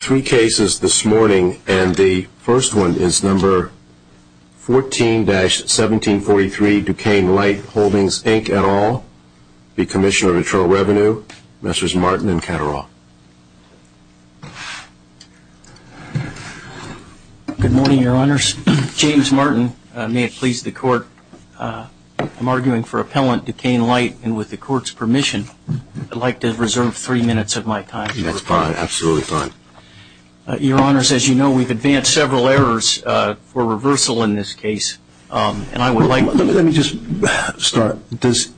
Three cases this morning and the first one is number 14-1743 Duquesne Light Holdings Inc et al. The Commissioner of Internal Revenue, Messrs. Martin and Cattaraugh. Good morning, your honors. James Martin, may it please the court. I'm arguing for appellant Duquesne Light and with the court's permission, I'd like to reserve three minutes of my time. That's fine, absolutely fine. Your honors, as you know, we've advanced several errors for reversal in this case and I would like... Let me just start. Does...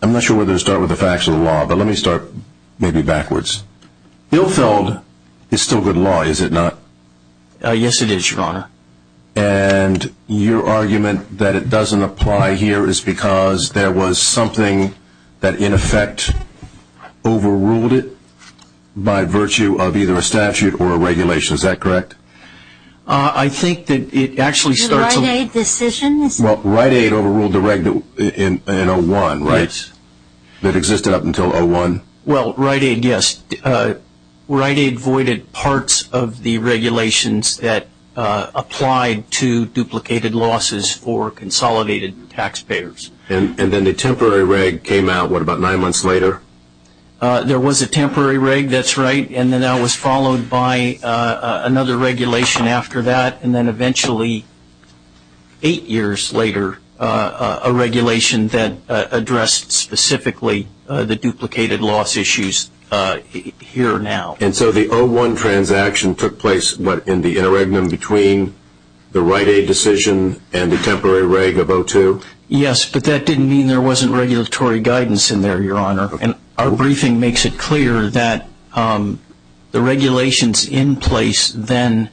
I'm not sure whether to start with the facts or the law, but let me start maybe backwards. Ilfeld is still good law, is it not? Yes, it is, your honor. And your argument that it doesn't apply here is because there was something that in effect overruled it by virtue of either a statute or a regulation. Is that correct? I think that it actually starts... The Rite-Aid decision? Well, Rite-Aid overruled the regulation in 01, right? Yes. That existed up until 01? Well, Rite-Aid, yes. Rite-Aid voided parts of the regulations that applied to duplicated losses for consolidated taxpayers. And then the temporary reg came out, what, about nine months later? There was a temporary reg, that's right, and then that was followed by another regulation after that and then eventually, eight years later, a regulation that addressed specifically the duplicated loss issues here now. And so the 01 transaction took place, what, in the interregnum between the Rite-Aid decision and the temporary reg of 02? Yes, but that didn't mean there wasn't regulatory guidance in there, your honor. And our briefing makes it clear that the regulations in place then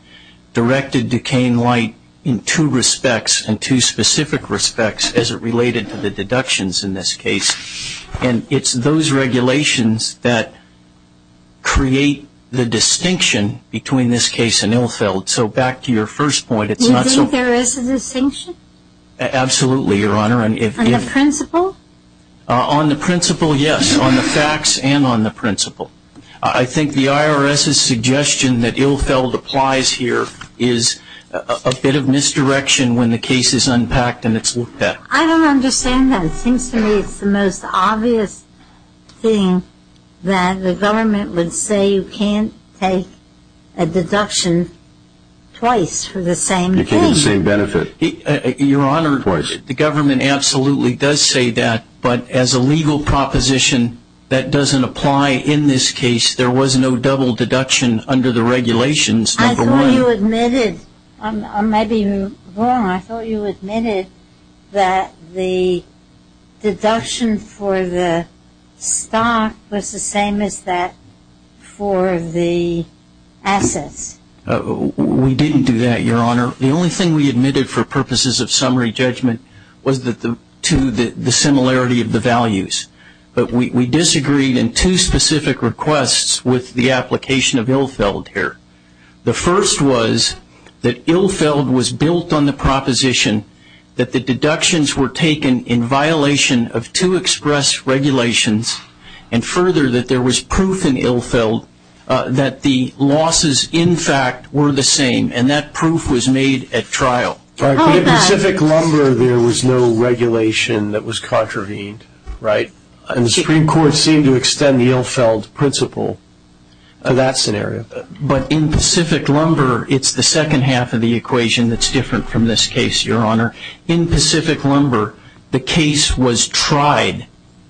directed Duquesne Light in two respects and two specific respects as it related to the deductions in this case. And it's those regulations that create the distinction between this case and Ilfeld. So back to your first point, it's not so... You think there is a distinction? Absolutely, your honor. On the principle? On the principle, yes, on the facts and on the principle. I think the IRS's suggestion that Ilfeld applies here is a bit of misdirection when the case is unpacked and it's looked at. I don't understand that. It seems to me it's the most obvious thing that the government would say you can't take a deduction twice for the same thing. You can't get the same benefit twice. Your honor, the government absolutely does say that, but as a legal proposition that doesn't apply in this case, there was no double deduction under the regulations. I thought you admitted that the deduction for the stock was the same as that for the assets. We didn't do that, your honor. The only thing we admitted for purposes of summary judgment was to the similarity of the values. But we disagreed in two specific requests with the that the deductions were taken in violation of two express regulations and further that there was proof in Ilfeld that the losses in fact were the same and that proof was made at trial. In Pacific Lumber, there was no regulation that was contravened, right? And the Supreme Court seemed to extend the Ilfeld principle for that scenario. But in Pacific Lumber, it's the second half of this case, your honor. In Pacific Lumber, the case was tried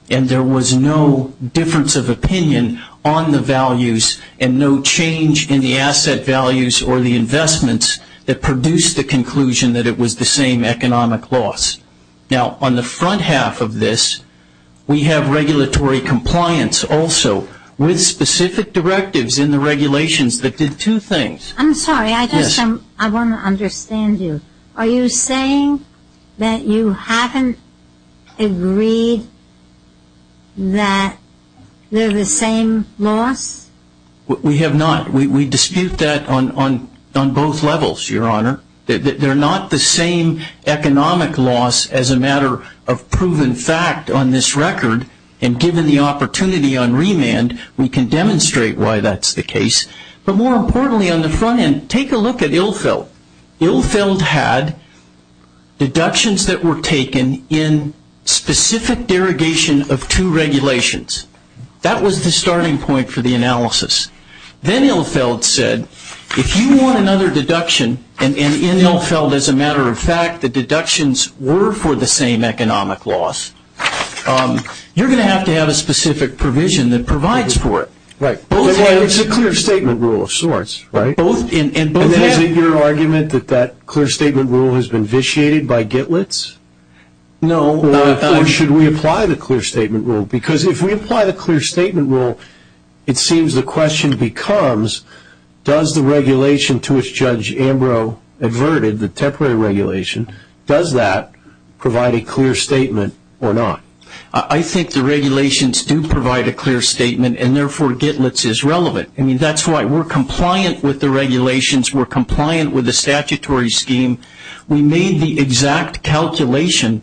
and there was no difference of opinion on the values and no change in the asset values or the investments that produced the conclusion that it was the same economic loss. Now, on the front half of this, we have regulatory compliance also with specific directives in the regulations that did two things. I'm sorry, I guess I want to understand you. Are you saying that you haven't agreed that they're the same loss? We have not. We dispute that on both levels, your honor. They're not the same economic loss as a matter of proven fact on this record. And given the opportunity on remand, we can demonstrate why Ilfeld had deductions that were taken in specific derogation of two regulations. That was the starting point for the analysis. Then Ilfeld said, if you want another deduction, and in Ilfeld, as a matter of fact, the deductions were for the same economic loss, you're going to have to have argument that that clear statement rule has been vitiated by Gitlitz? No. Or should we apply the clear statement rule? Because if we apply the clear statement rule, it seems the question becomes, does the regulation to which Judge Ambrose adverted, the temporary regulation, does that provide a clear statement or not? I think the regulations do provide a clear statement and therefore Gitlitz is relevant. That's why we're compliant with the regulations. We're compliant with the statutory scheme. We made the exact calculation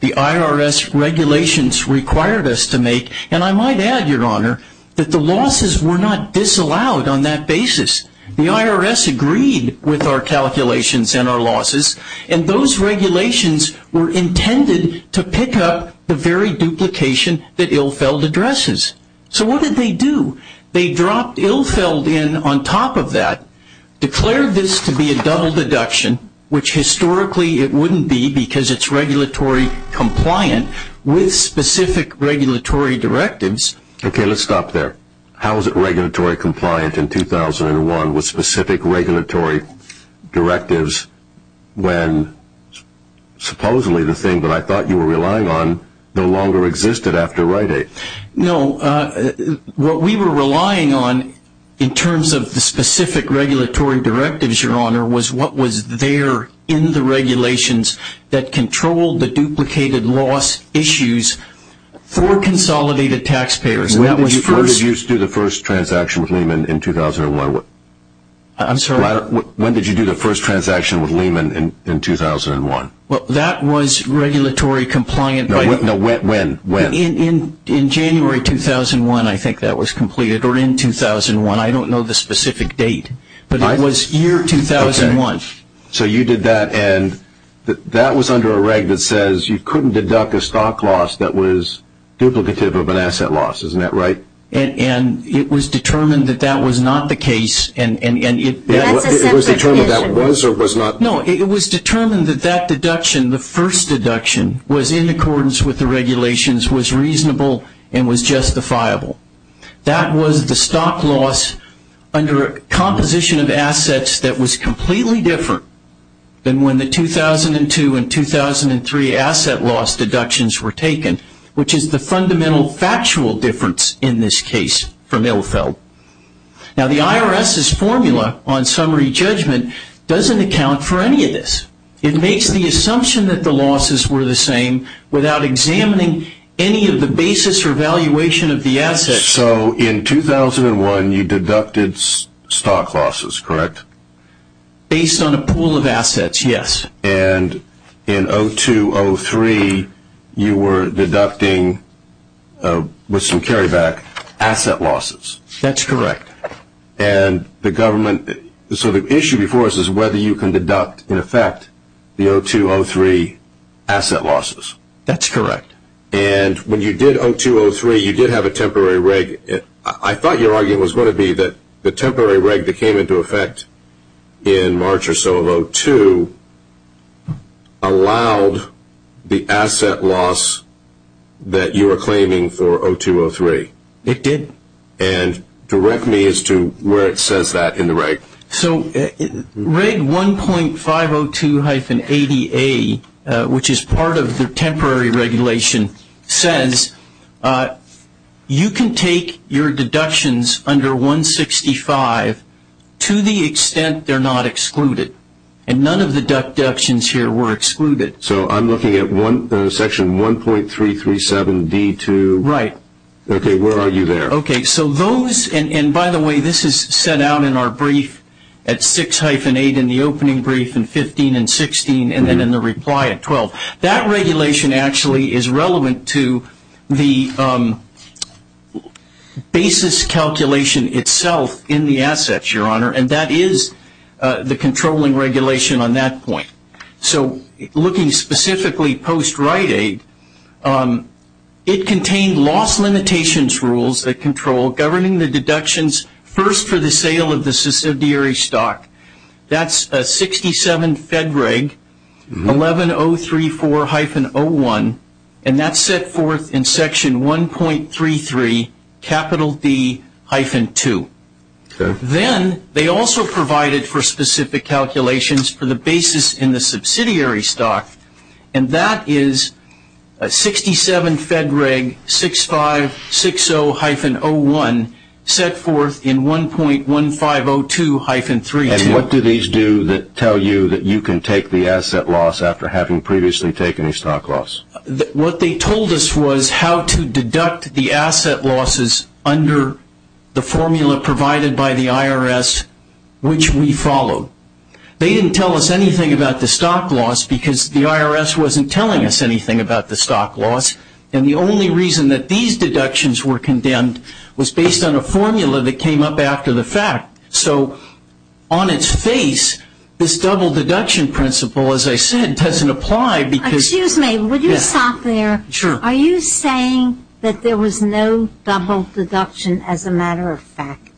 the IRS regulations required us to make. And I might add, your honor, that the losses were not disallowed on that basis. The IRS agreed with our calculations and our losses. And those regulations were intended to pick up the very duplication that Ilfeld addresses. So what did they do? They dropped Ilfeld in on top of that, declared this to be a double deduction, which historically it wouldn't be because it's regulatory compliant with specific regulatory directives. Okay, let's stop there. How is it regulatory compliant in 2001 with specific regulatory directives when supposedly the thing that I thought you were relying on no longer existed after Rite-Aid? No, what we were relying on in terms of the specific regulatory directives, your honor, was what was there in the regulations that controlled the duplicated loss issues for consolidated taxpayers. When did you do the first transaction with Lehman in 2001? I'm sorry? When did you do the first transaction with Lehman in 2001? Well, that was regulatory compliant. No, when? In January 2001, I think that was completed, or in 2001. I don't know the specific date. But it was year 2001. So you did that and that was under a reg that says you couldn't deduct a stock loss that was duplicative of an asset loss, isn't that right? And it was determined that that was not the case. And it was determined that was No, it was determined that that deduction, the first deduction, was in accordance with the regulations, was reasonable, and was justifiable. That was the stock loss under a composition of assets that was completely different than when the 2002 and 2003 asset loss deductions were taken, which is the fundamental factual difference in this case from Ilfeld. Now the IRS's formula on summary judgment doesn't account for any of this. It makes the assumption that the losses were the same without examining any of the basis or valuation of the assets. So in 2001, you deducted stock losses, correct? Based on a pool of assets, yes. And in 2002, 2003, you were deducting, with some carryback, asset losses. That's correct. And the government, so the issue before us is whether you can deduct, in effect, the 2002, 2003 asset losses. That's correct. And when you did 2002, 2003, you did have a temporary reg. I thought your argument was going to be that the temporary reg that came into effect in March or so of 2002 allowed the asset loss that you were claiming for 2002, 2003. It did. And direct me as to where it says that in the reg. So reg 1.502-80A, which is part of the temporary regulation, says you can take your deductions under 165 to the extent they're not excluded. And none of the deductions here were excluded. So I'm looking at section 1.337-D2. Right. Okay. Where are you there? Okay. So those, and by the way, this is set out in our brief at 6-8 in the opening brief in 15 and 16, and then in the reply at 12. That regulation actually is relevant to the basis calculation itself in the assets, Your Honor. And that is the controlling regulation on that point. So looking specifically post-Rite-Aid, it contained loss limitations rules that control governing the deductions first for the sale of the subsidiary stock. That's 67-FEDREG-11034-01, and that's set forth in section 1.33-D-2. Okay. Then they also provided for specific calculations for the basis in the subsidiary stock, and that is 67-FEDREG-6560-01 set forth in 1.1502-32. And what do these do that tell you that you can take the asset loss after having previously taken a stock loss? What they told us was how to deduct the asset losses under the formula provided by the IRS, which we followed. They didn't tell us anything about the stock loss because the IRS wasn't telling us anything about the stock loss, and the only reason that these deductions were condemned was based on a formula that came up after the fact. So on its face, this double deduction principle, as I said, doesn't apply because Excuse me, would you stop there? Sure. Are you saying that there was no double deduction as a matter of fact?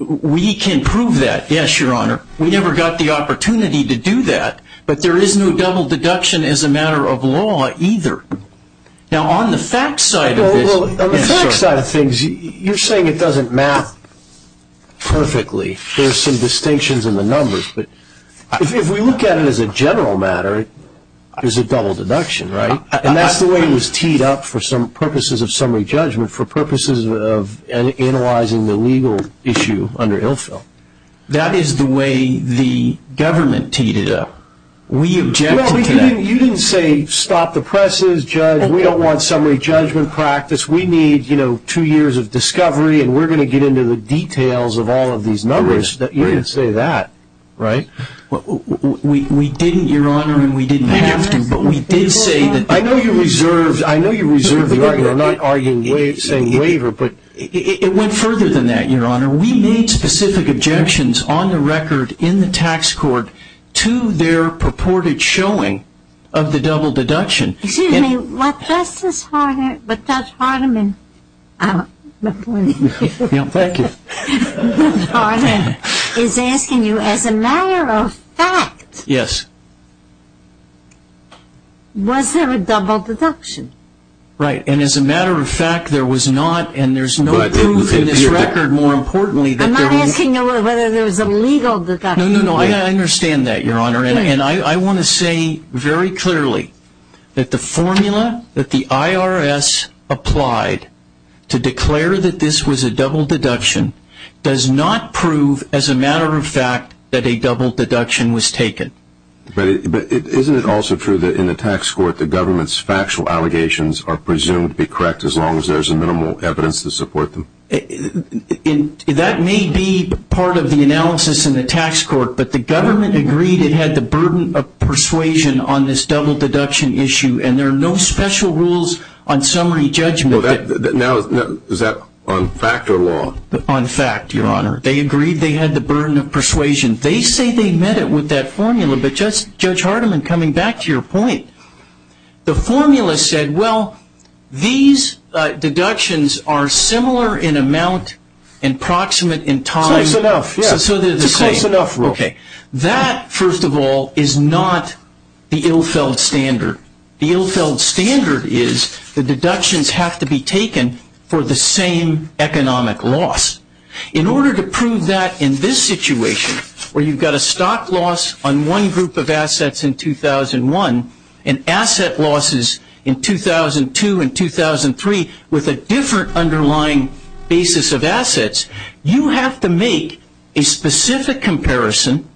We can prove that, yes, your honor. We never got the opportunity to do that, but there is no double deduction as a matter of law either. Now on the fact side of things, you're saying it doesn't map perfectly. There's some distinctions in the numbers, but if we look at it as a general matter, there's a double deduction, right? And that's the way it was teed up for purposes of summary judgment, for purposes of analyzing the legal issue under ILFIL. That is the way the government teed it up. You didn't say stop the presses, judge, we don't want summary judgment practice, we need two years of discovery, and we're going to get the details of all of these numbers. You didn't say that, right? We didn't, your honor, and we didn't have to, but we did say that. I know you reserved, I know you reserved the argument, not arguing saying waiver, but it went further than that, your honor. We made specific objections on the record in the tax court to their purported showing of the double deduction. Excuse me, but Judge Hardeman is asking you, as a matter of fact, was there a double deduction? Right, and as a matter of fact, there was not, and there's no proof in this record, more importantly. I'm not asking you whether there was a legal deduction. No, no, no, I understand that, your honor, and I want to say very clearly that the formula that the IRS applied to declare that this was a double deduction does not prove, as a matter of fact, that a double deduction was taken. But isn't it also true that in the tax court, the government's factual allegations are presumed to be correct, as long as there's a minimal evidence to support them? That may be part of the analysis in the tax court, but the government agreed it had the burden of persuasion on this double deduction issue, and there are no special rules on summary judgment. Is that on fact or law? On fact, your honor. They agreed they had the burden of persuasion. They say they met it with that formula, but Judge Hardeman, coming back to your point, the formula said, well, these deductions are similar in amount and approximate in time. Close enough, yes. So they're the same. It's a close enough rule. Okay. That, first of all, is not the Ilfeld standard. The Ilfeld standard is the deductions have to be taken for the same economic loss. In order to prove that in this situation, where you've got a stock loss on one group of assets in 2001 and asset losses in 2002 and 2003 with a different underlying basis of assets, you have to make a specific comparison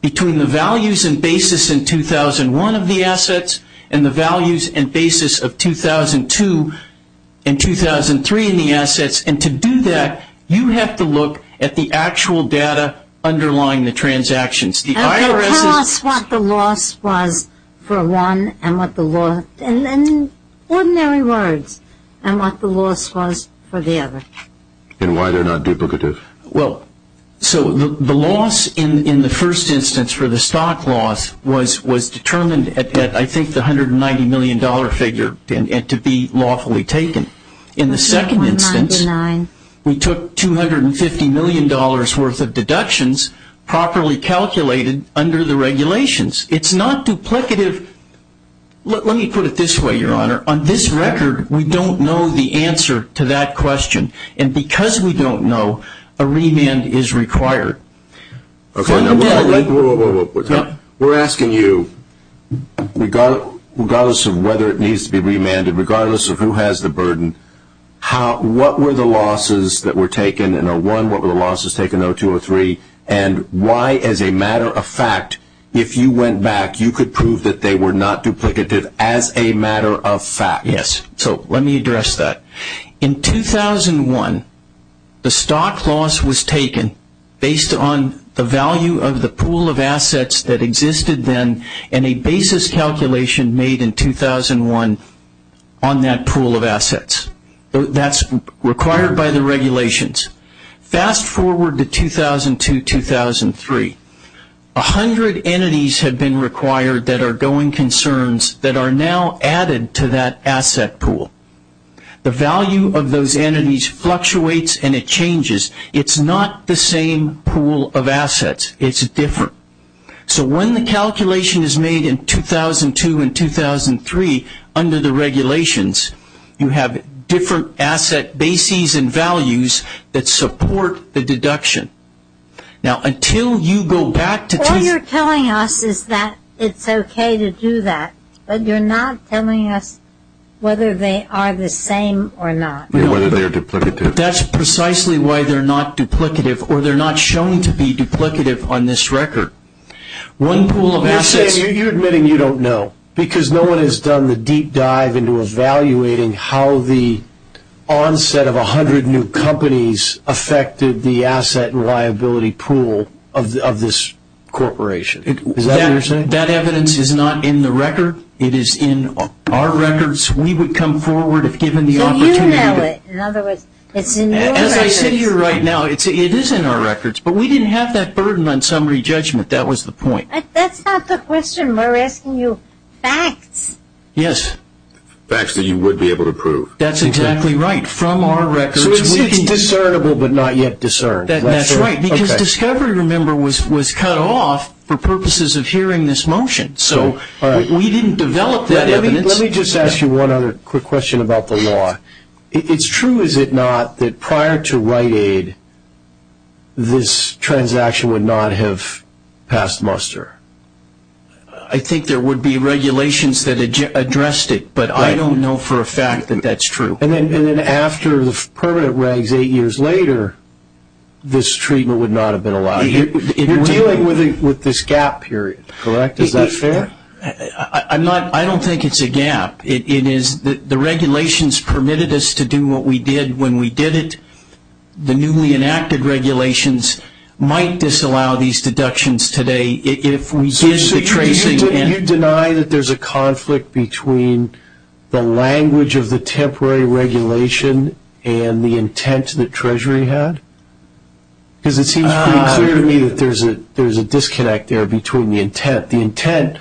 between the values and basis in 2001 of the assets and the values and basis of 2002 and 2003 in the assets, and to do that, you have to look at the actual data underlying the transactions. I don't know. Tell us what the loss was for one and what the loss, in ordinary words, and what the loss was for the other. And why they're not duplicative. Well, so the loss in the first instance for the stock loss was determined at, I think, $190 million figure and to be lawfully taken. In the second instance, we took $250 million worth of deductions properly calculated under the regulations. It's not duplicative. Let me put it this way, Your Honor. On this record, we don't know the answer to that question, and because we don't know, a remand is required. Okay, now we're asking you, regardless of whether it needs to be remanded, regardless of who has the burden, what were the losses that were taken in a one, what were the losses taken in a two or three, and why, as a matter of fact, if you went back, you could prove that they were not duplicative as a matter of fact. Yes, so let me address that. In 2001, the stock loss was taken based on the value of the pool of assets that existed then and a basis calculation made in 2001 on that pool of assets. That's required by the regulations. Fast forward to 2002, 2003. A hundred entities have been required that are going concerns that are now added to that asset pool. The value of those entities fluctuates and it changes. It's not the same pool of assets. It's different. So when the calculation is made in 2002 and 2003 under the regulations, you have different asset bases and values that support the deduction. Now until you go back to... All you're telling us is that it's okay to do that, but you're not telling us whether they are the same or not. Whether they're duplicative. That's precisely why they're not duplicative or they're not showing to be duplicative on this record. One pool of assets... You're admitting you don't know because no one has done the deep dive into evaluating how the onset of a hundred new companies affected the asset and liability pool of this corporation. Is that what you're saying? That evidence is not in the record. It is in our records. We would come forward if given the opportunity. So you know it. In other words, it's in your records. As I sit here right now, it is in our records, but we didn't have that burden on summary judgment. That was the point. That's not the question. We're asking you facts. Yes. Facts that you would be able to prove. That's exactly right. From our records. So it's discernible, but not yet discerned. That's right. Because Discovery, remember, was cut off for purposes of hearing this motion. So we didn't develop that evidence. Let me just ask you one other quick question about the law. It's true, is it not, that prior to Rite Aid, this transaction would not have passed muster? I think there would be regulations that addressed it, but I don't know for a fact that that's true. And then after the permanent regs eight years later, this treatment would not have been allowed. You're dealing with this gap period, correct? Is that fair? I don't think it's a gap. It is the regulations permitted us to do what we did when we did it. The newly enacted regulations might disallow these deductions today if we did the tracing. So you deny that there's a conflict between the language of the temporary regulation and the intent that Treasury had? Because it seems pretty clear to me that there's a disconnect there between the intent. The intent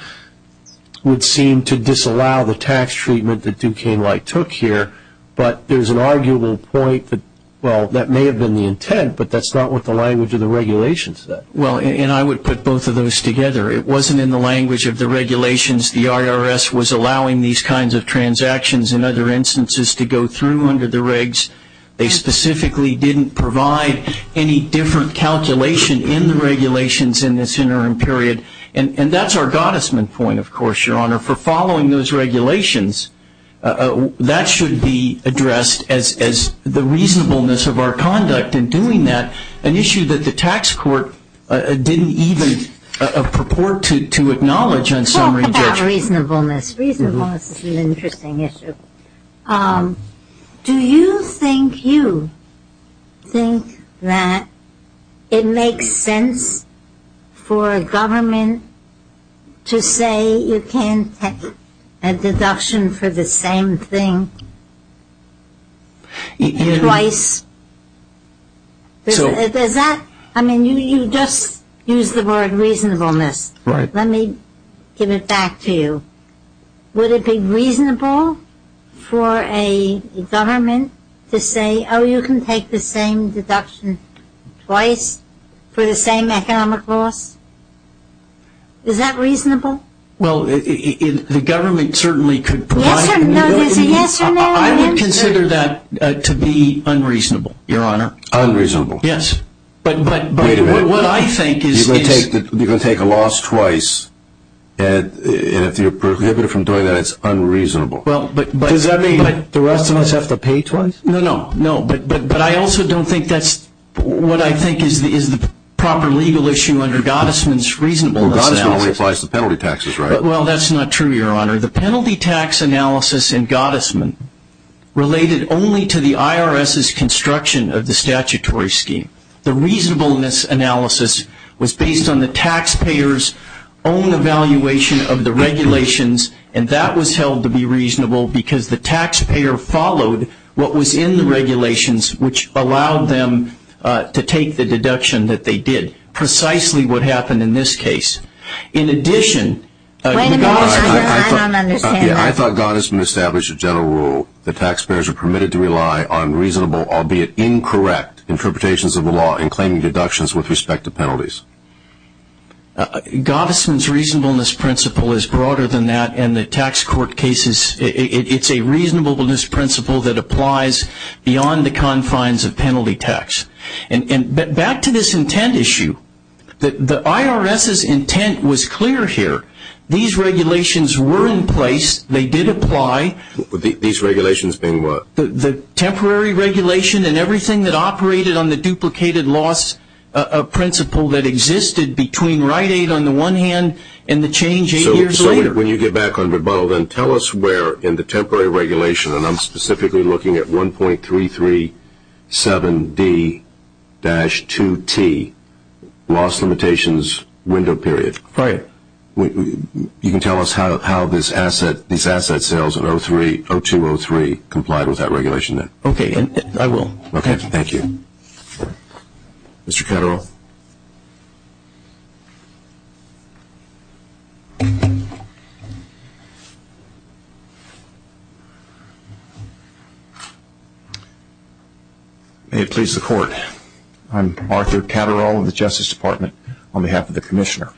would seem to disallow the tax treatment that Duquesne Light took here, but there's an arguable point that, well, that may have been the intent, but that's not what the language of the regulations said. Well, and I would put both of those together. It wasn't in the language of the regulations. The IRS was allowing these kinds of transactions and other instances to go through under the regs. They specifically didn't provide any different calculation in the regulations in this interim period. And that's our goddesman point, of course, Your Honor, for following those regulations. That should be addressed as the tax court didn't even purport to acknowledge on summary judgment. Well, about reasonableness. Reasonableness is an interesting issue. Do you think you think that it makes sense for a government to say you can't take a deduction for the same thing twice? I mean, you just used the word reasonableness. Let me give it back to you. Would it be reasonable for a government to say, oh, you can take the same deduction twice for the same economic loss? Is that reasonable? Well, the government certainly could provide... I would consider that to be unreasonable, Your Honor. Unreasonable? Yes. But what I think is... You're going to take a loss twice, and if you're prohibited from doing that, it's unreasonable. Well, but... Does that mean the rest of us have to pay twice? No, no, no. But I also don't think that's what I think is the proper legal issue under goddesman's reasonableness analysis. Well, goddesman only applies to penalty taxes, right? Well, that's not true, Your Honor. The penalty tax analysis in goddesman related only to the IRS's construction of the statutory scheme. The reasonableness analysis was based on the taxpayer's own evaluation of the regulations, and that was held to be reasonable because the taxpayer followed what was in the regulations, which allowed them to take the deduction that they did, precisely what happened in this case. In addition... Wait a minute, Your Honor. I don't understand that. I thought goddesman established a general rule that taxpayers are permitted to rely on reasonable, albeit incorrect, interpretations of the law in claiming deductions with respect to penalties. Goddesman's reasonableness principle is broader than that, and the tax court cases... It's a reasonableness principle that applies beyond the confines of penalty tax. And back to this intent issue. The IRS's intent was clear here. These regulations were in place. They did apply. These regulations being what? The temporary regulation and everything that operated on the duplicated loss principle that existed between right aid on the one hand and the change eight years later. So when you get back on rebuttal, then tell us where in the temporary regulation, and I'm specifically looking at 1.337D-2T, loss limitations, window period. You can tell us how these asset sales in 03-02-03 complied with that regulation then. Okay. I will. Okay. Thank you. Mr. Catterall? May it please the court. I'm Arthur Catterall of the Justice Department on behalf of the Commissioner.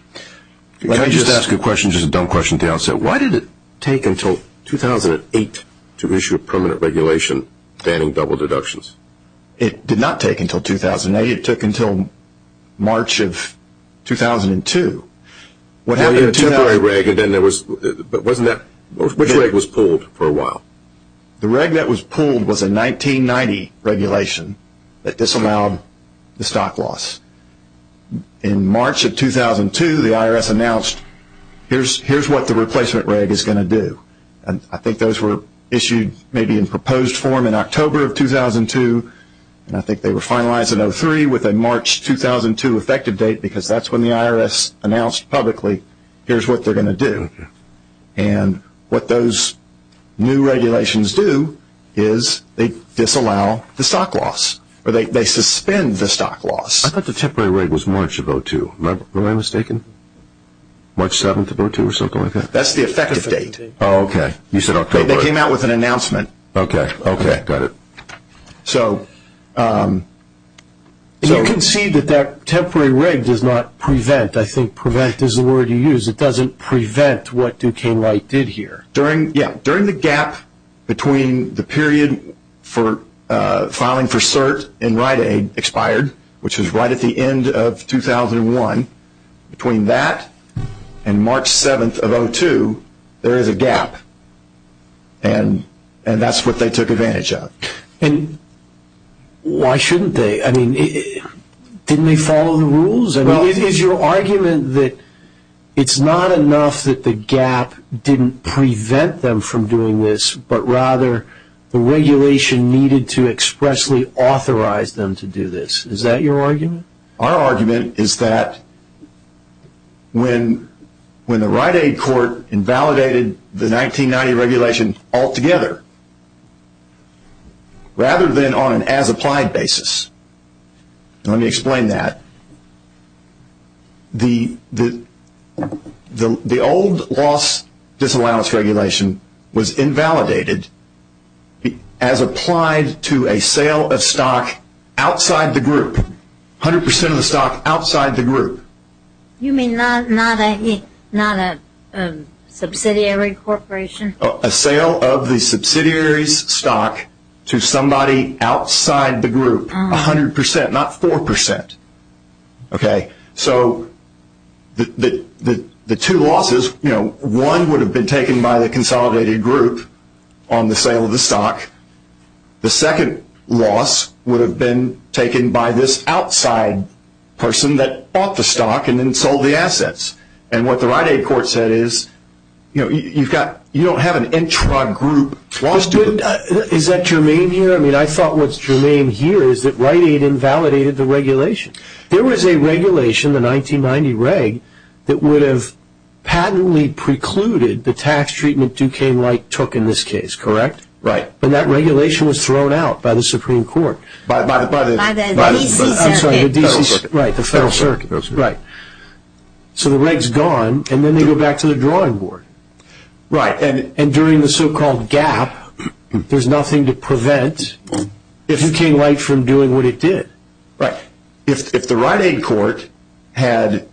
Can I just ask a question, just a dumb question at the outset? Why did it take until 2008 to issue a permanent regulation banning double deductions? It did not take until 2008. It took until March of 2002. What happened to the temporary reg? Which reg was pulled for a while? The reg that was pulled was a 1990 regulation that disallowed the stock loss. In March of 2002, the IRS announced here's what the replacement reg is going to do. I think those were issued maybe in proposed form in October of 2002, and I think they were finalized in 03 with a March 2002 effective date because that's when the IRS announced publicly here's what they're going to do. And what those new regulations do is they disallow the stock loss, or they suspend the stock loss. I thought the temporary reg was March of 02. Am I mistaken? March 7th of 02 or something like that? That's the effective date. Oh, okay. You said October. They came out with an announcement. Okay, got it. You can see that that temporary reg does not prevent. I think prevent is the word you use. It doesn't prevent what Duquesne Wright did here. During the gap between the period for filing for cert in Rite Aid expired, which was right at the end, and that's what they took advantage of. Why shouldn't they? Didn't they follow the rules? Is your argument that it's not enough that the gap didn't prevent them from doing this, but rather the regulation needed to expressly authorize them to do this? Is that your argument? Our argument is that when the Rite Aid court invalidated the 1990 regulation altogether, rather than on an as-applied basis, and let me explain that, the old loss disallowance regulation was invalidated as applied to a sale of stock outside the group, 100% of the stock outside the group. You mean not a subsidiary corporation? A sale of the subsidiary's stock to somebody outside the group, 100%, not 4%. The two losses, one would have been taken by the consolidated group on the sale of the stock. The second loss would have been taken by this outside person that bought the stock and then sold the assets. What the Rite Aid court said is you don't have an intra-group. Is that germane here? I thought what's germane here is that Rite Aid invalidated the regulation. There was a regulation, the 1990 reg, that would have patently precluded the tax treatment Duquesne took in this case, correct? Right. And that regulation was thrown out by the Supreme Court. By the D.C. Circuit. Right, the Federal Circuit. Right. So the reg's gone and then they go back to the drawing board. Right. And during the so-called gap, there's nothing to prevent Duquesne from doing what it did. Right. If the Rite Aid court had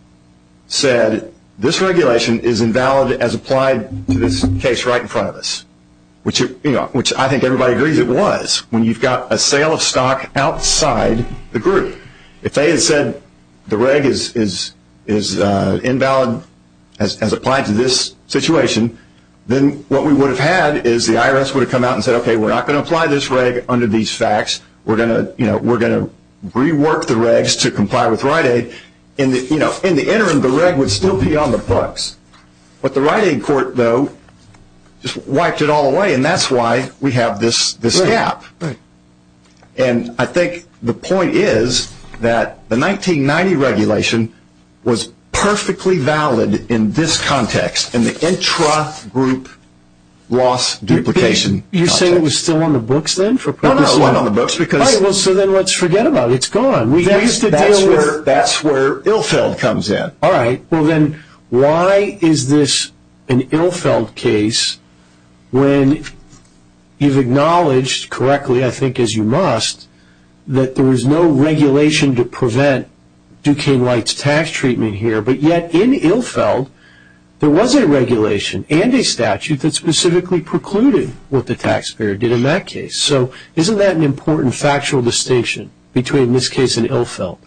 said this regulation is invalid as applied to this case right in front of us, which I think everybody agrees it was, when you've got a sale of stock outside the group, if they had said the reg is invalid as applied to this situation, then what we would have had is the IRS would have come out and said, okay, we're not going to apply this reg under these facts. We're going to rework the regs to comply with Rite Aid. In the interim, the reg would still be on the books. But the Rite Aid court, though, just wiped it all away. And that's why we have this gap. Right, right. And I think the point is that the 1990 regulation was perfectly valid in this context, in the intra-group loss duplication context. It was still on the books then? No, no, it wasn't on the books. So then let's forget about it. It's gone. That's where Ilfeld comes in. All right. Well, then why is this an Ilfeld case when you've acknowledged correctly, I think as you must, that there was no regulation to prevent Duquesne White's tax treatment here, but yet in Ilfeld, there was a regulation and a statute that specifically precluded what the taxpayer did in that case? So isn't that an important factual distinction between this case and Ilfeld?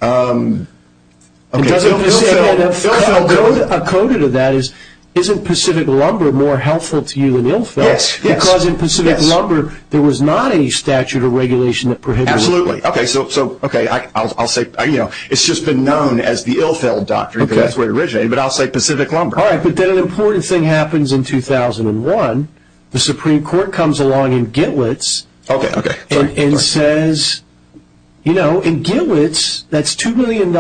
Okay, so Ilfeld, Ilfeld, go ahead. A coda to that is, isn't Pacific Lumber more helpful to you than Ilfeld? Yes, yes, yes. Because in Pacific Lumber, there was not any statute or regulation that prohibited it. Absolutely. Okay, so, okay, I'll say, you know, it's just been known as the Ilfeld doctrine because that's where it originated, but I'll say Pacific Lumber. All right, but then an important thing happens in 2001. The Supreme Court comes along in Gitwitz and says, you know, in Gitwitz, that's $2 million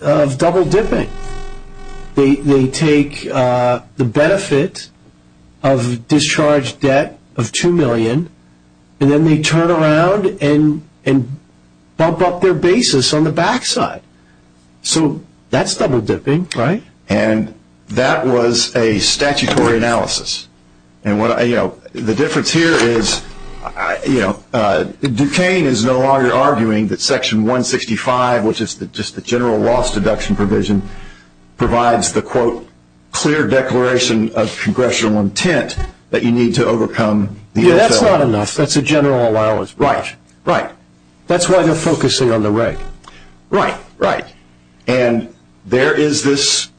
of double dipping. They take the benefit of discharged debt of $2 million and then they turn around and bump up their basis on the backside. So that's double dipping, right? And that was a statutory analysis. And what I, you know, the difference here is, you know, Duquesne is no longer arguing that section 165, which is just the general loss deduction provision, provides the, quote, clear declaration of congressional intent that you need to overcome the Ilfeld. Yeah, that's not enough. That's a general allowance. Right, right. That's why they're focusing on the reg. Right, right. And there is this,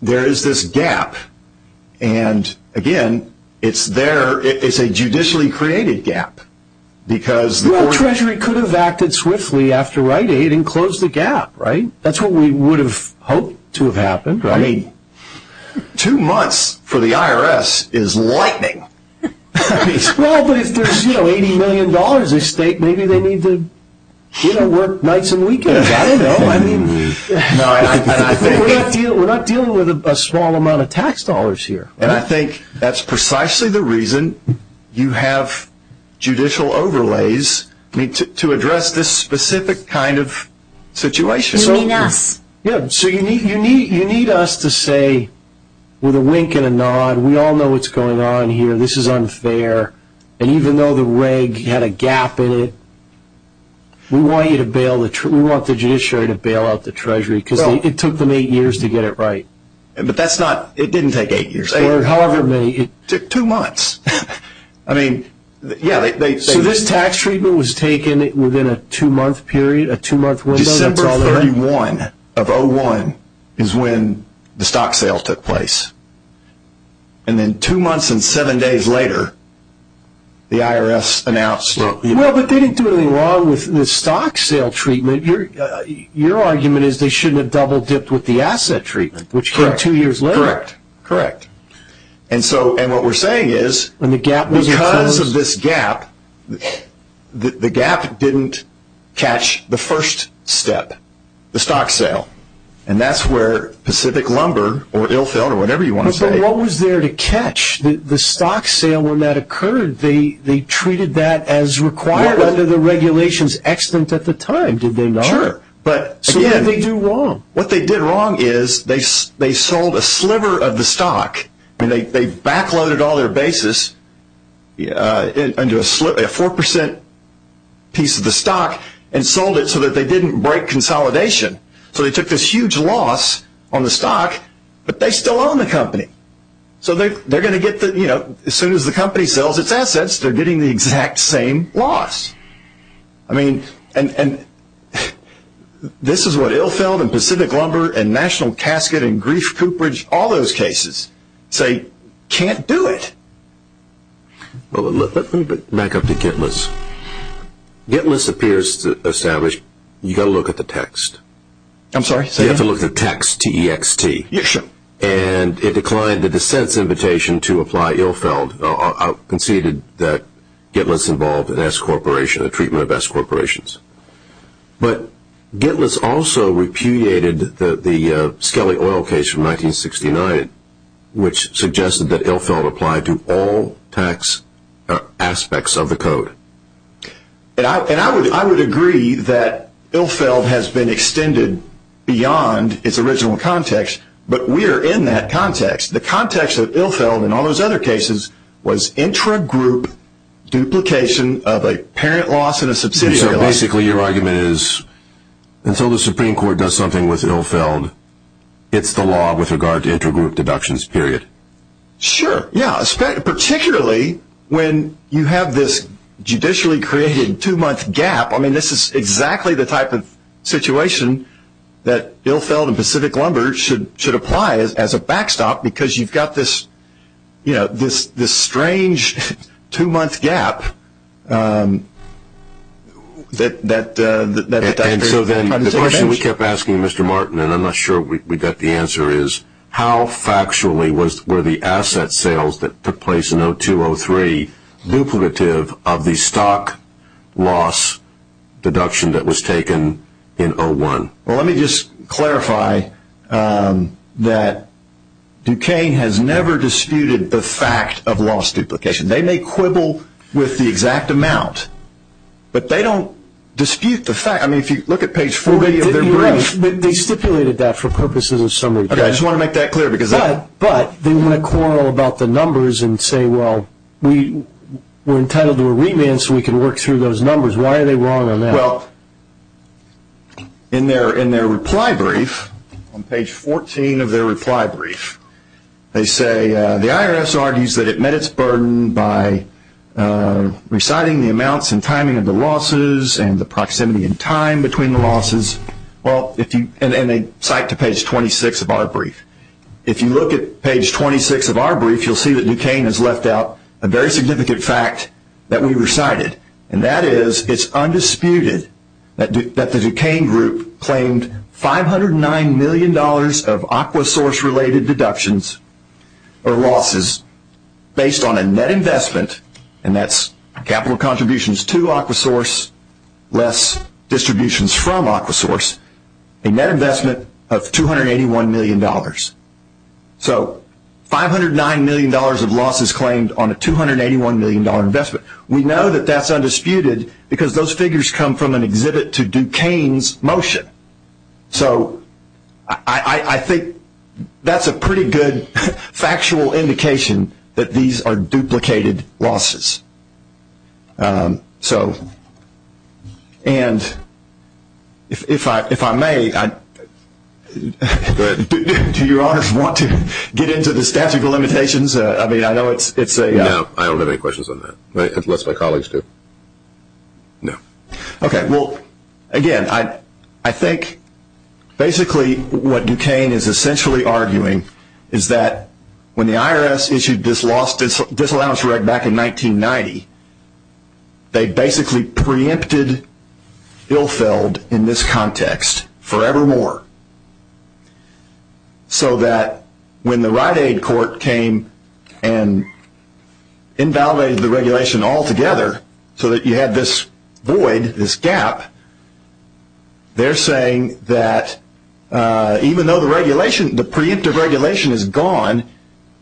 there is this gap. And again, it's there, it's a judicially created gap. Because the Treasury could have acted swiftly after Rite Aid and closed the gap, right? That's what we would have hoped to have happened, right? I mean, two months for the IRS is lightning. Well, but if there's, you know, $80 million at stake, maybe they need to, you know, work nights and weekends. I don't know. I mean, we're not dealing with a small amount of tax dollars here. And I think that's precisely the reason you have judicial overlays, I mean, to address this specific kind of situation. You mean us. Yeah, so you need us to say, with a wink and a nod, we all know what's going on here. This is unfair. And even though the reg had a gap in it, we want you to bail the, we want the judiciary to bail out the Treasury because it took them eight years to get it right. But that's not, it didn't take eight years. However many. It took two months. I mean, yeah, they. So this tax treatment was taken within a two-month period, a two-month window? December 31 of 01 is when the stock sale took place. And then two months and seven days later, the IRS announced. Well, but they didn't do anything wrong with the stock sale treatment. Your argument is they shouldn't have double-dipped with the asset treatment, which came two years later. Correct. Correct. And so, and what we're saying is, because of this gap, the gap didn't catch the first step, the stock sale. And that's where Pacific Lumber or Ilfell or whatever you want to say. What was there to catch? The stock sale, when that occurred, they treated that as required under the regulations, extant at the time, did they not? Sure. But again, what they did wrong is they sold a sliver of the stock and they backloaded all their basis into a 4% piece of the stock and sold it so that they didn't break consolidation. So they took this huge loss on the stock, but they still own the company. So they're going to get the, you know, as soon as the company sells its assets, they're getting the exact same loss. I mean, and this is what Ilfell and Pacific Lumber and National Casket and Grief Cooperage, all those cases say, can't do it. Well, let me back up to GitList. GitList appears to establish, you got to look at the text. I'm sorry? You have to look at the text, T-E-X-T. Yes, sir. And it declined the dissent's invitation to apply Ilfell. I conceded that GitList involved an S corporation, a treatment of S corporations. But GitList also repudiated the Skelly Oil case from 1969, which suggested that Ilfell applied to all tax aspects of the code. And I would agree that Ilfell has been extended beyond its original context, but we are in that context. The context of Ilfell, and all those other cases, was intra-group duplication of a parent loss and a subsidiary loss. And so basically your argument is, until the Supreme Court does something with Ilfell, it's the law with regard to intra-group deductions, period. Sure. Yeah, particularly when you have this judicially created two-month gap. I mean, this is exactly the type of situation that Ilfell and Pacific Lumber should apply as a backstop, because you've got this strange two-month gap. And so then the question we kept asking Mr. Martin, and I'm not sure we got the answer, is how factually were the asset sales that took place in 2002-2003 duplicative of the stock loss deduction that was taken in 2001? Well, let me just clarify that Duquesne has never disputed the fact of loss duplication. They may quibble with the exact amount, but they don't dispute the fact. I mean, if you look at page 40 of their brief. They stipulated that for purposes of summary. Okay, I just want to make that clear. But they want to quarrel about the numbers and say, well, we're entitled to a remand so we can work through those numbers. Why are they wrong on that? Well, in their reply brief, on page 14 of their reply brief, they say the IRS argues that it met its burden by reciting the amounts and timing of the losses and the proximity in time between the losses, and they cite to page 26 of our brief. If you look at page 26 of our brief, you'll see that Duquesne has left out a very significant fact that we recited. And that is, it's undisputed that the Duquesne group claimed $509 million of AquaSource-related deductions or losses based on a net investment, and that's capital contributions to AquaSource, less distributions from AquaSource, a net investment of $281 million. So $509 million of losses claimed on a $281 million investment. We know that that's undisputed because those figures come from an exhibit to Duquesne's motion. So I think that's a pretty good factual indication that these are duplicated losses. So, and if I may, do your honors want to get into the statute of limitations? I mean, I know it's a... Unless my colleagues do. No. Okay. Well, again, I think basically what Duquesne is essentially arguing is that when the IRS issued this disallowance reg back in 1990, they basically preempted Ilfeld in this context forevermore. So that when the Rite Aid court came and invalidated the regulation altogether so that you had this void, this gap, they're saying that even though the regulation, the preemptive regulation is gone,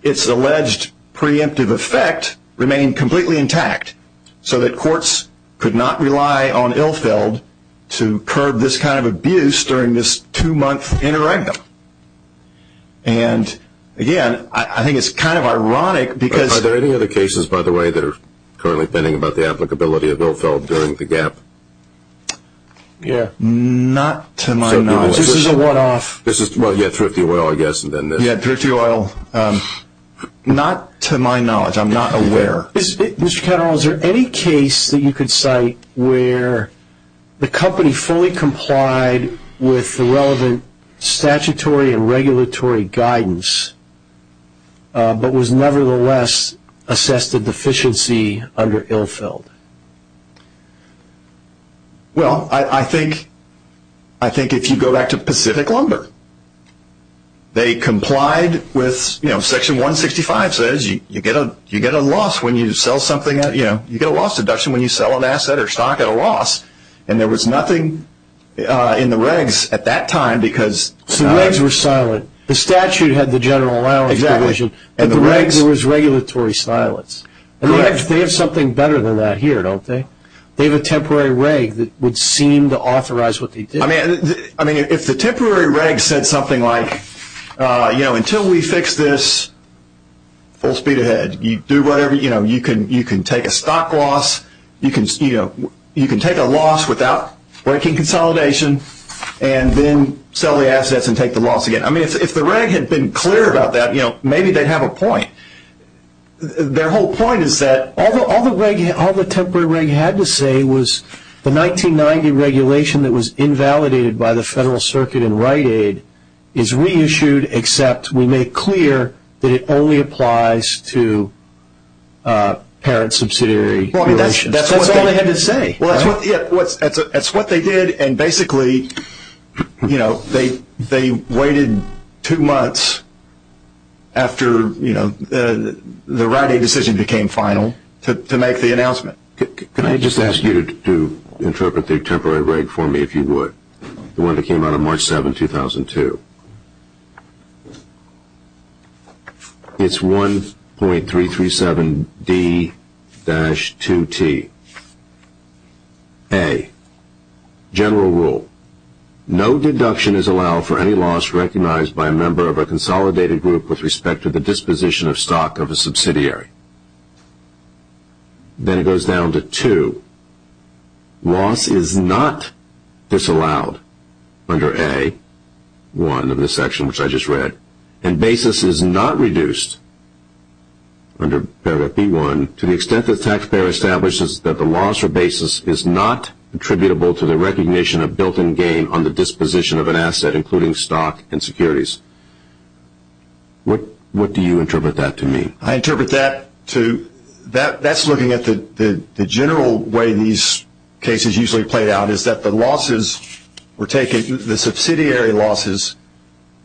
it's alleged preemptive effect remained completely intact so that courts could not rely on Ilfeld to curb this kind of abuse during this two-month interregnum. And again, I think it's kind of ironic because... Are there any other cases, by the way, that are currently pending about the applicability of Ilfeld during the gap? Yeah. Not to my knowledge. This is a one-off. This is, well, yeah, Thrifty Oil, I guess, and then this. Yeah, Thrifty Oil. Not to my knowledge. I'm not aware. Mr. Ketterer, is there any case that you could cite where the company fully complied with the relevant statutory and regulatory guidance but was nevertheless assessed a deficiency under Ilfeld? Well, I think if you go back to Pacific Lumber, they complied with, you know, Section 165 says you get a loss when you sell something. You know, you get a loss deduction when you sell an asset or stock at a loss. And there was nothing in the regs at that time because... So the regs were silent. The statute had the general allowance provision, but the regs, there was regulatory silence. And they have something better than that here, don't they? They have a temporary reg that would seem to authorize what they did. I mean, if the temporary reg said something like, you know, until we fix this, full speed ahead. You do whatever, you know, you can take a stock loss. You can take a loss without breaking consolidation and then sell the assets and take the loss again. I mean, if the reg had been clear about that, you know, maybe they'd have a point. Their whole point is that all the temporary reg had to say the 1990 regulation that was invalidated by the Federal Circuit in Rite Aid is reissued except we make clear that it only applies to parent subsidiary regulations. That's all they had to say. Well, that's what they did. And basically, you know, they waited two months after, you know, the Rite Aid decision became final to make the announcement. Can I just ask you to interpret the temporary reg for me, if you would? The one that came out of March 7, 2002. It's 1.337D-2T. A, general rule. No deduction is allowed for any loss recognized by a member of a consolidated group with respect to the disposition of stock of a subsidiary. Then it goes down to two. Loss is not disallowed under A-1 of this section, which I just read. And basis is not reduced under paragraph B-1 to the extent that the taxpayer establishes that the loss or basis is not attributable to the recognition of built-in gain on the disposition of an asset, including stock and securities. What do you interpret that to mean? I interpret that to, that's looking at the general way these cases usually play out, is that the losses were taken, the subsidiary losses,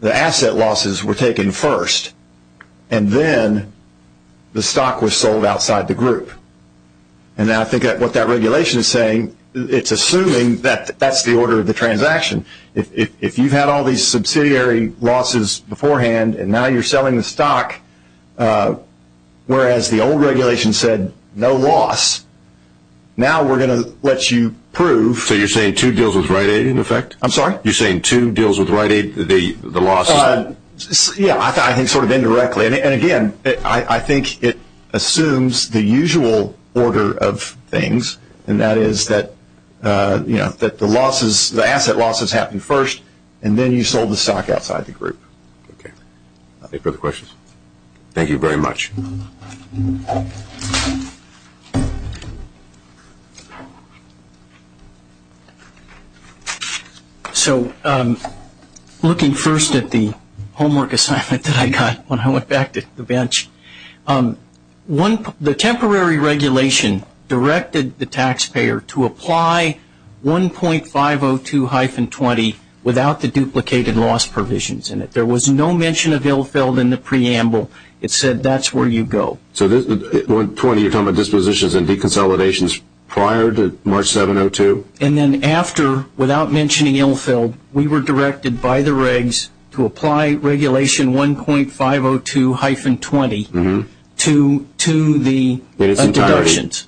the asset losses were taken first. And then the stock was sold outside the group. And I think what that regulation is saying, it's assuming that that's the order of the transaction. If you've had all these subsidiary losses beforehand and now you're selling the stock, whereas the old regulation said no loss, now we're going to let you prove. So you're saying two deals with Rite Aid, in effect? I'm sorry? You're saying two deals with Rite Aid, the losses? Yeah, I think sort of indirectly. And again, I think it assumes the usual order of things. And that is that, you know, that the losses, the asset losses happen first, and then you sold the stock outside the group. Okay. Any further questions? Thank you very much. So looking first at the homework assignment that I got when I went back to the bench, the temporary regulation directed the taxpayer to apply 1.502-20 without the duplicated loss provisions in it. There was no mention of ill-filled in the preamble. It said that's where you go. So at this point, you're talking about dispositions and deconsolidations prior to March 702? And then after, without mentioning ill-filled, we were directed by the regs to apply regulation 1.502-20 to the deductions.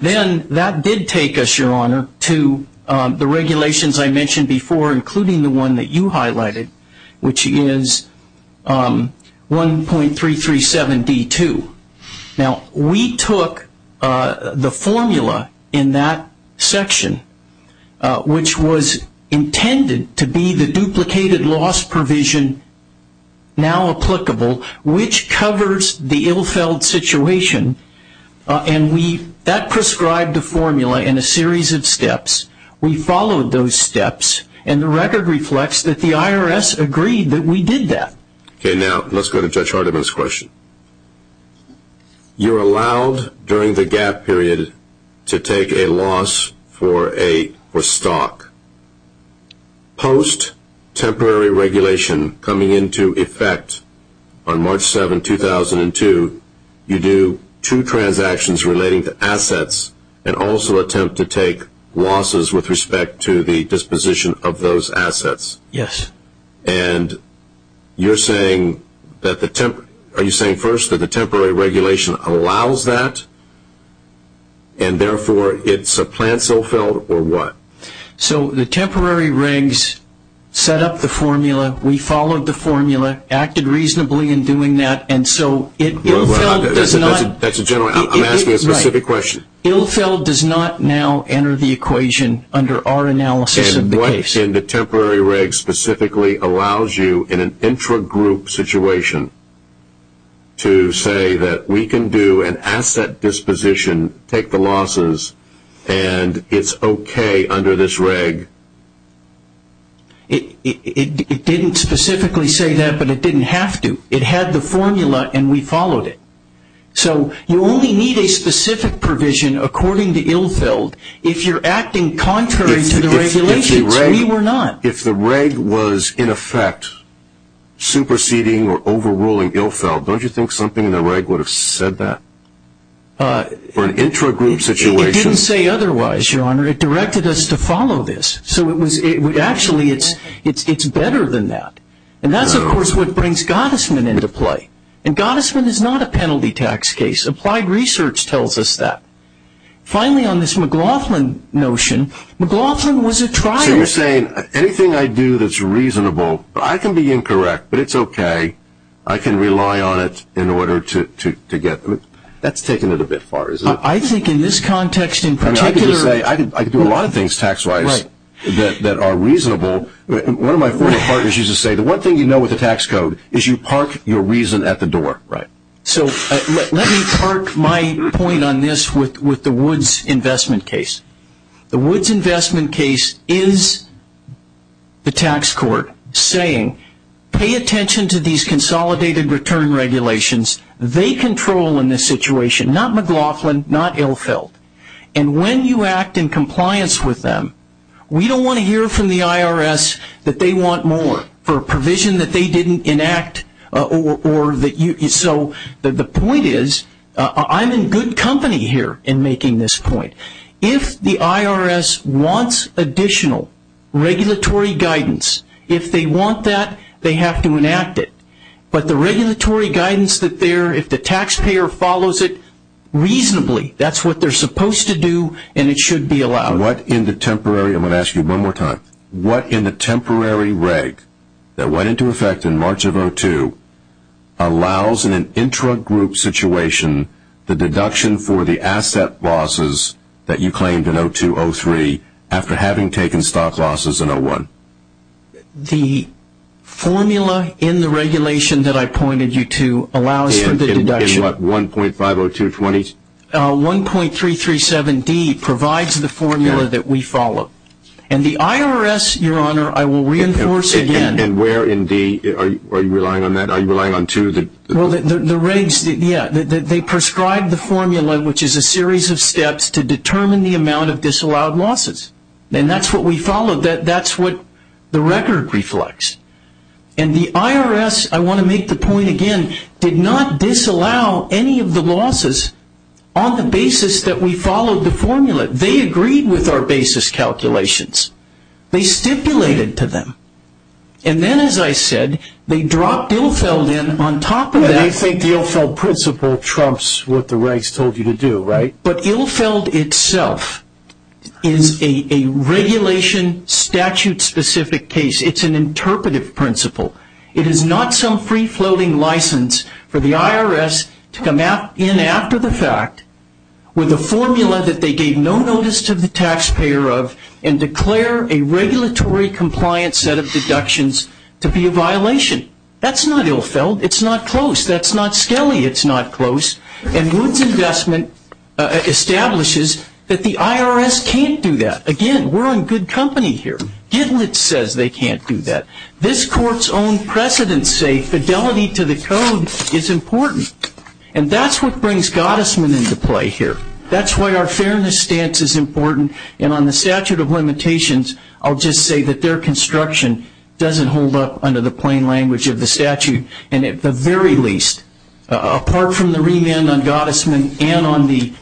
Then that did take us, Your Honor, to the regulations I mentioned before, including the one that you highlighted, which is 1.337-D2. Now, we took the formula in that section, which was intended to be the duplicated loss provision now applicable, which covers the ill-filled situation. And that prescribed a formula in a series of steps. We followed those steps, and the record reflects that the IRS agreed that we did that. Okay, now let's go to Judge Hardiman's question. You're allowed during the gap period to take a loss for stock. Post-temporary regulation coming into effect on March 7, 2002, you do two transactions relating to assets, and also attempt to take losses with respect to the disposition of those assets. Yes. And you're saying that, are you saying first that the temporary regulation allows that, and therefore it supplants ill-filled, or what? So the temporary regs set up the formula. We followed the formula, acted reasonably in doing that, and so ill-filled does not... That's a general... I'm asking a specific question. Ill-filled does not now enter the equation under our analysis of the case. And what in the temporary reg specifically allows you in an intra-group situation to say that we can do an asset disposition, take the losses, and it's okay under this reg? It didn't specifically say that, but it didn't have to. It had the formula, and we followed it. So you only need a specific provision according to ill-filled. If you're acting contrary to the regulations, we were not. If the reg was, in effect, superseding or overruling ill-filled, don't you think something in the reg would have said that? For an intra-group situation? It didn't say otherwise, Your Honor. It directed us to follow this. So actually, it's better than that. And that's, of course, what brings Gottesman into play. And Gottesman is not a penalty tax case. Applied research tells us that. Finally, on this McLaughlin notion, McLaughlin was a trial... So you're saying anything I do that's reasonable, I can be incorrect, but it's okay. I can rely on it in order to get... That's taking it a bit far, isn't it? I think in this context, in particular... I mean, I could just say I could do a lot of things tax-wise that are reasonable. One of my former partners used to say, the one thing you know with the tax code is you park your reason at the door. Right. So let me park my point on this with the Woods investment case. The Woods investment case is the tax court saying, pay attention to these consolidated return regulations. They control in this situation, not McLaughlin, not ill-filled. And when you act in compliance with them, we don't want to hear from the IRS that they want more for a provision that they didn't enact or that you... So the point is, I'm in good company here in making this point. If the IRS wants additional regulatory guidance, if they want that, they have to enact it. But the regulatory guidance that they're... If the taxpayer follows it reasonably, that's what they're supposed to do. And it should be allowed. What in the temporary... I'm going to ask you one more time. What in the temporary reg that went into effect in March of 02 allows in an intra-group situation the deduction for the asset losses that you claimed in 02-03 after having taken stock losses in 01? The formula in the regulation that I pointed you to allows for the deduction... In what, 1.50220? 1.337D provides the formula that we follow. And the IRS, Your Honor, I will reinforce again... And where in D are you relying on that? Are you relying on two of the... Well, the regs, yeah, they prescribe the formula, which is a series of steps to determine the amount of disallowed losses. And that's what we follow. That's what the record reflects. And the IRS, I want to make the point again, did not disallow any of the losses on the basis that we followed the formula. They agreed with our basis calculations. They stipulated to them. And then, as I said, they dropped Ilfeld in on top of that... Well, you think the Ilfeld principle trumps what the regs told you to do, right? But Ilfeld itself is a regulation statute-specific case. It's an interpretive principle. It is not some free-floating license for the IRS to come in after the fact with a formula that they gave no notice to the taxpayer of and declare a regulatory-compliant set of deductions to be a violation. That's not Ilfeld. It's not close. That's not Skelly. It's not close. And Wood's investment establishes that the IRS can't do that. Again, we're in good company here. Gitlitz says they can't do that. This court's own precedents say fidelity to the code is important. And that's what brings Gottesman into play here. That's why our fairness stance is important. And on the statute of limitations, I'll just say that their construction doesn't hold up under the plain language of the statute. And at the very least, apart from the remand on Gottesman and on the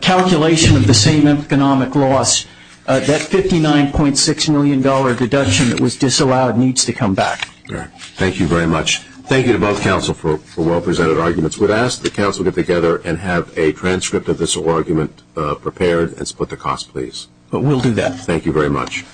calculation of the same economic loss, that $59.6 million deduction that was disallowed needs to come back. Thank you very much. Thank you to both counsel for well-presented arguments. We'd ask that counsel get together and have a transcript of this argument prepared and split the cost, please. But we'll do that. Thank you very much.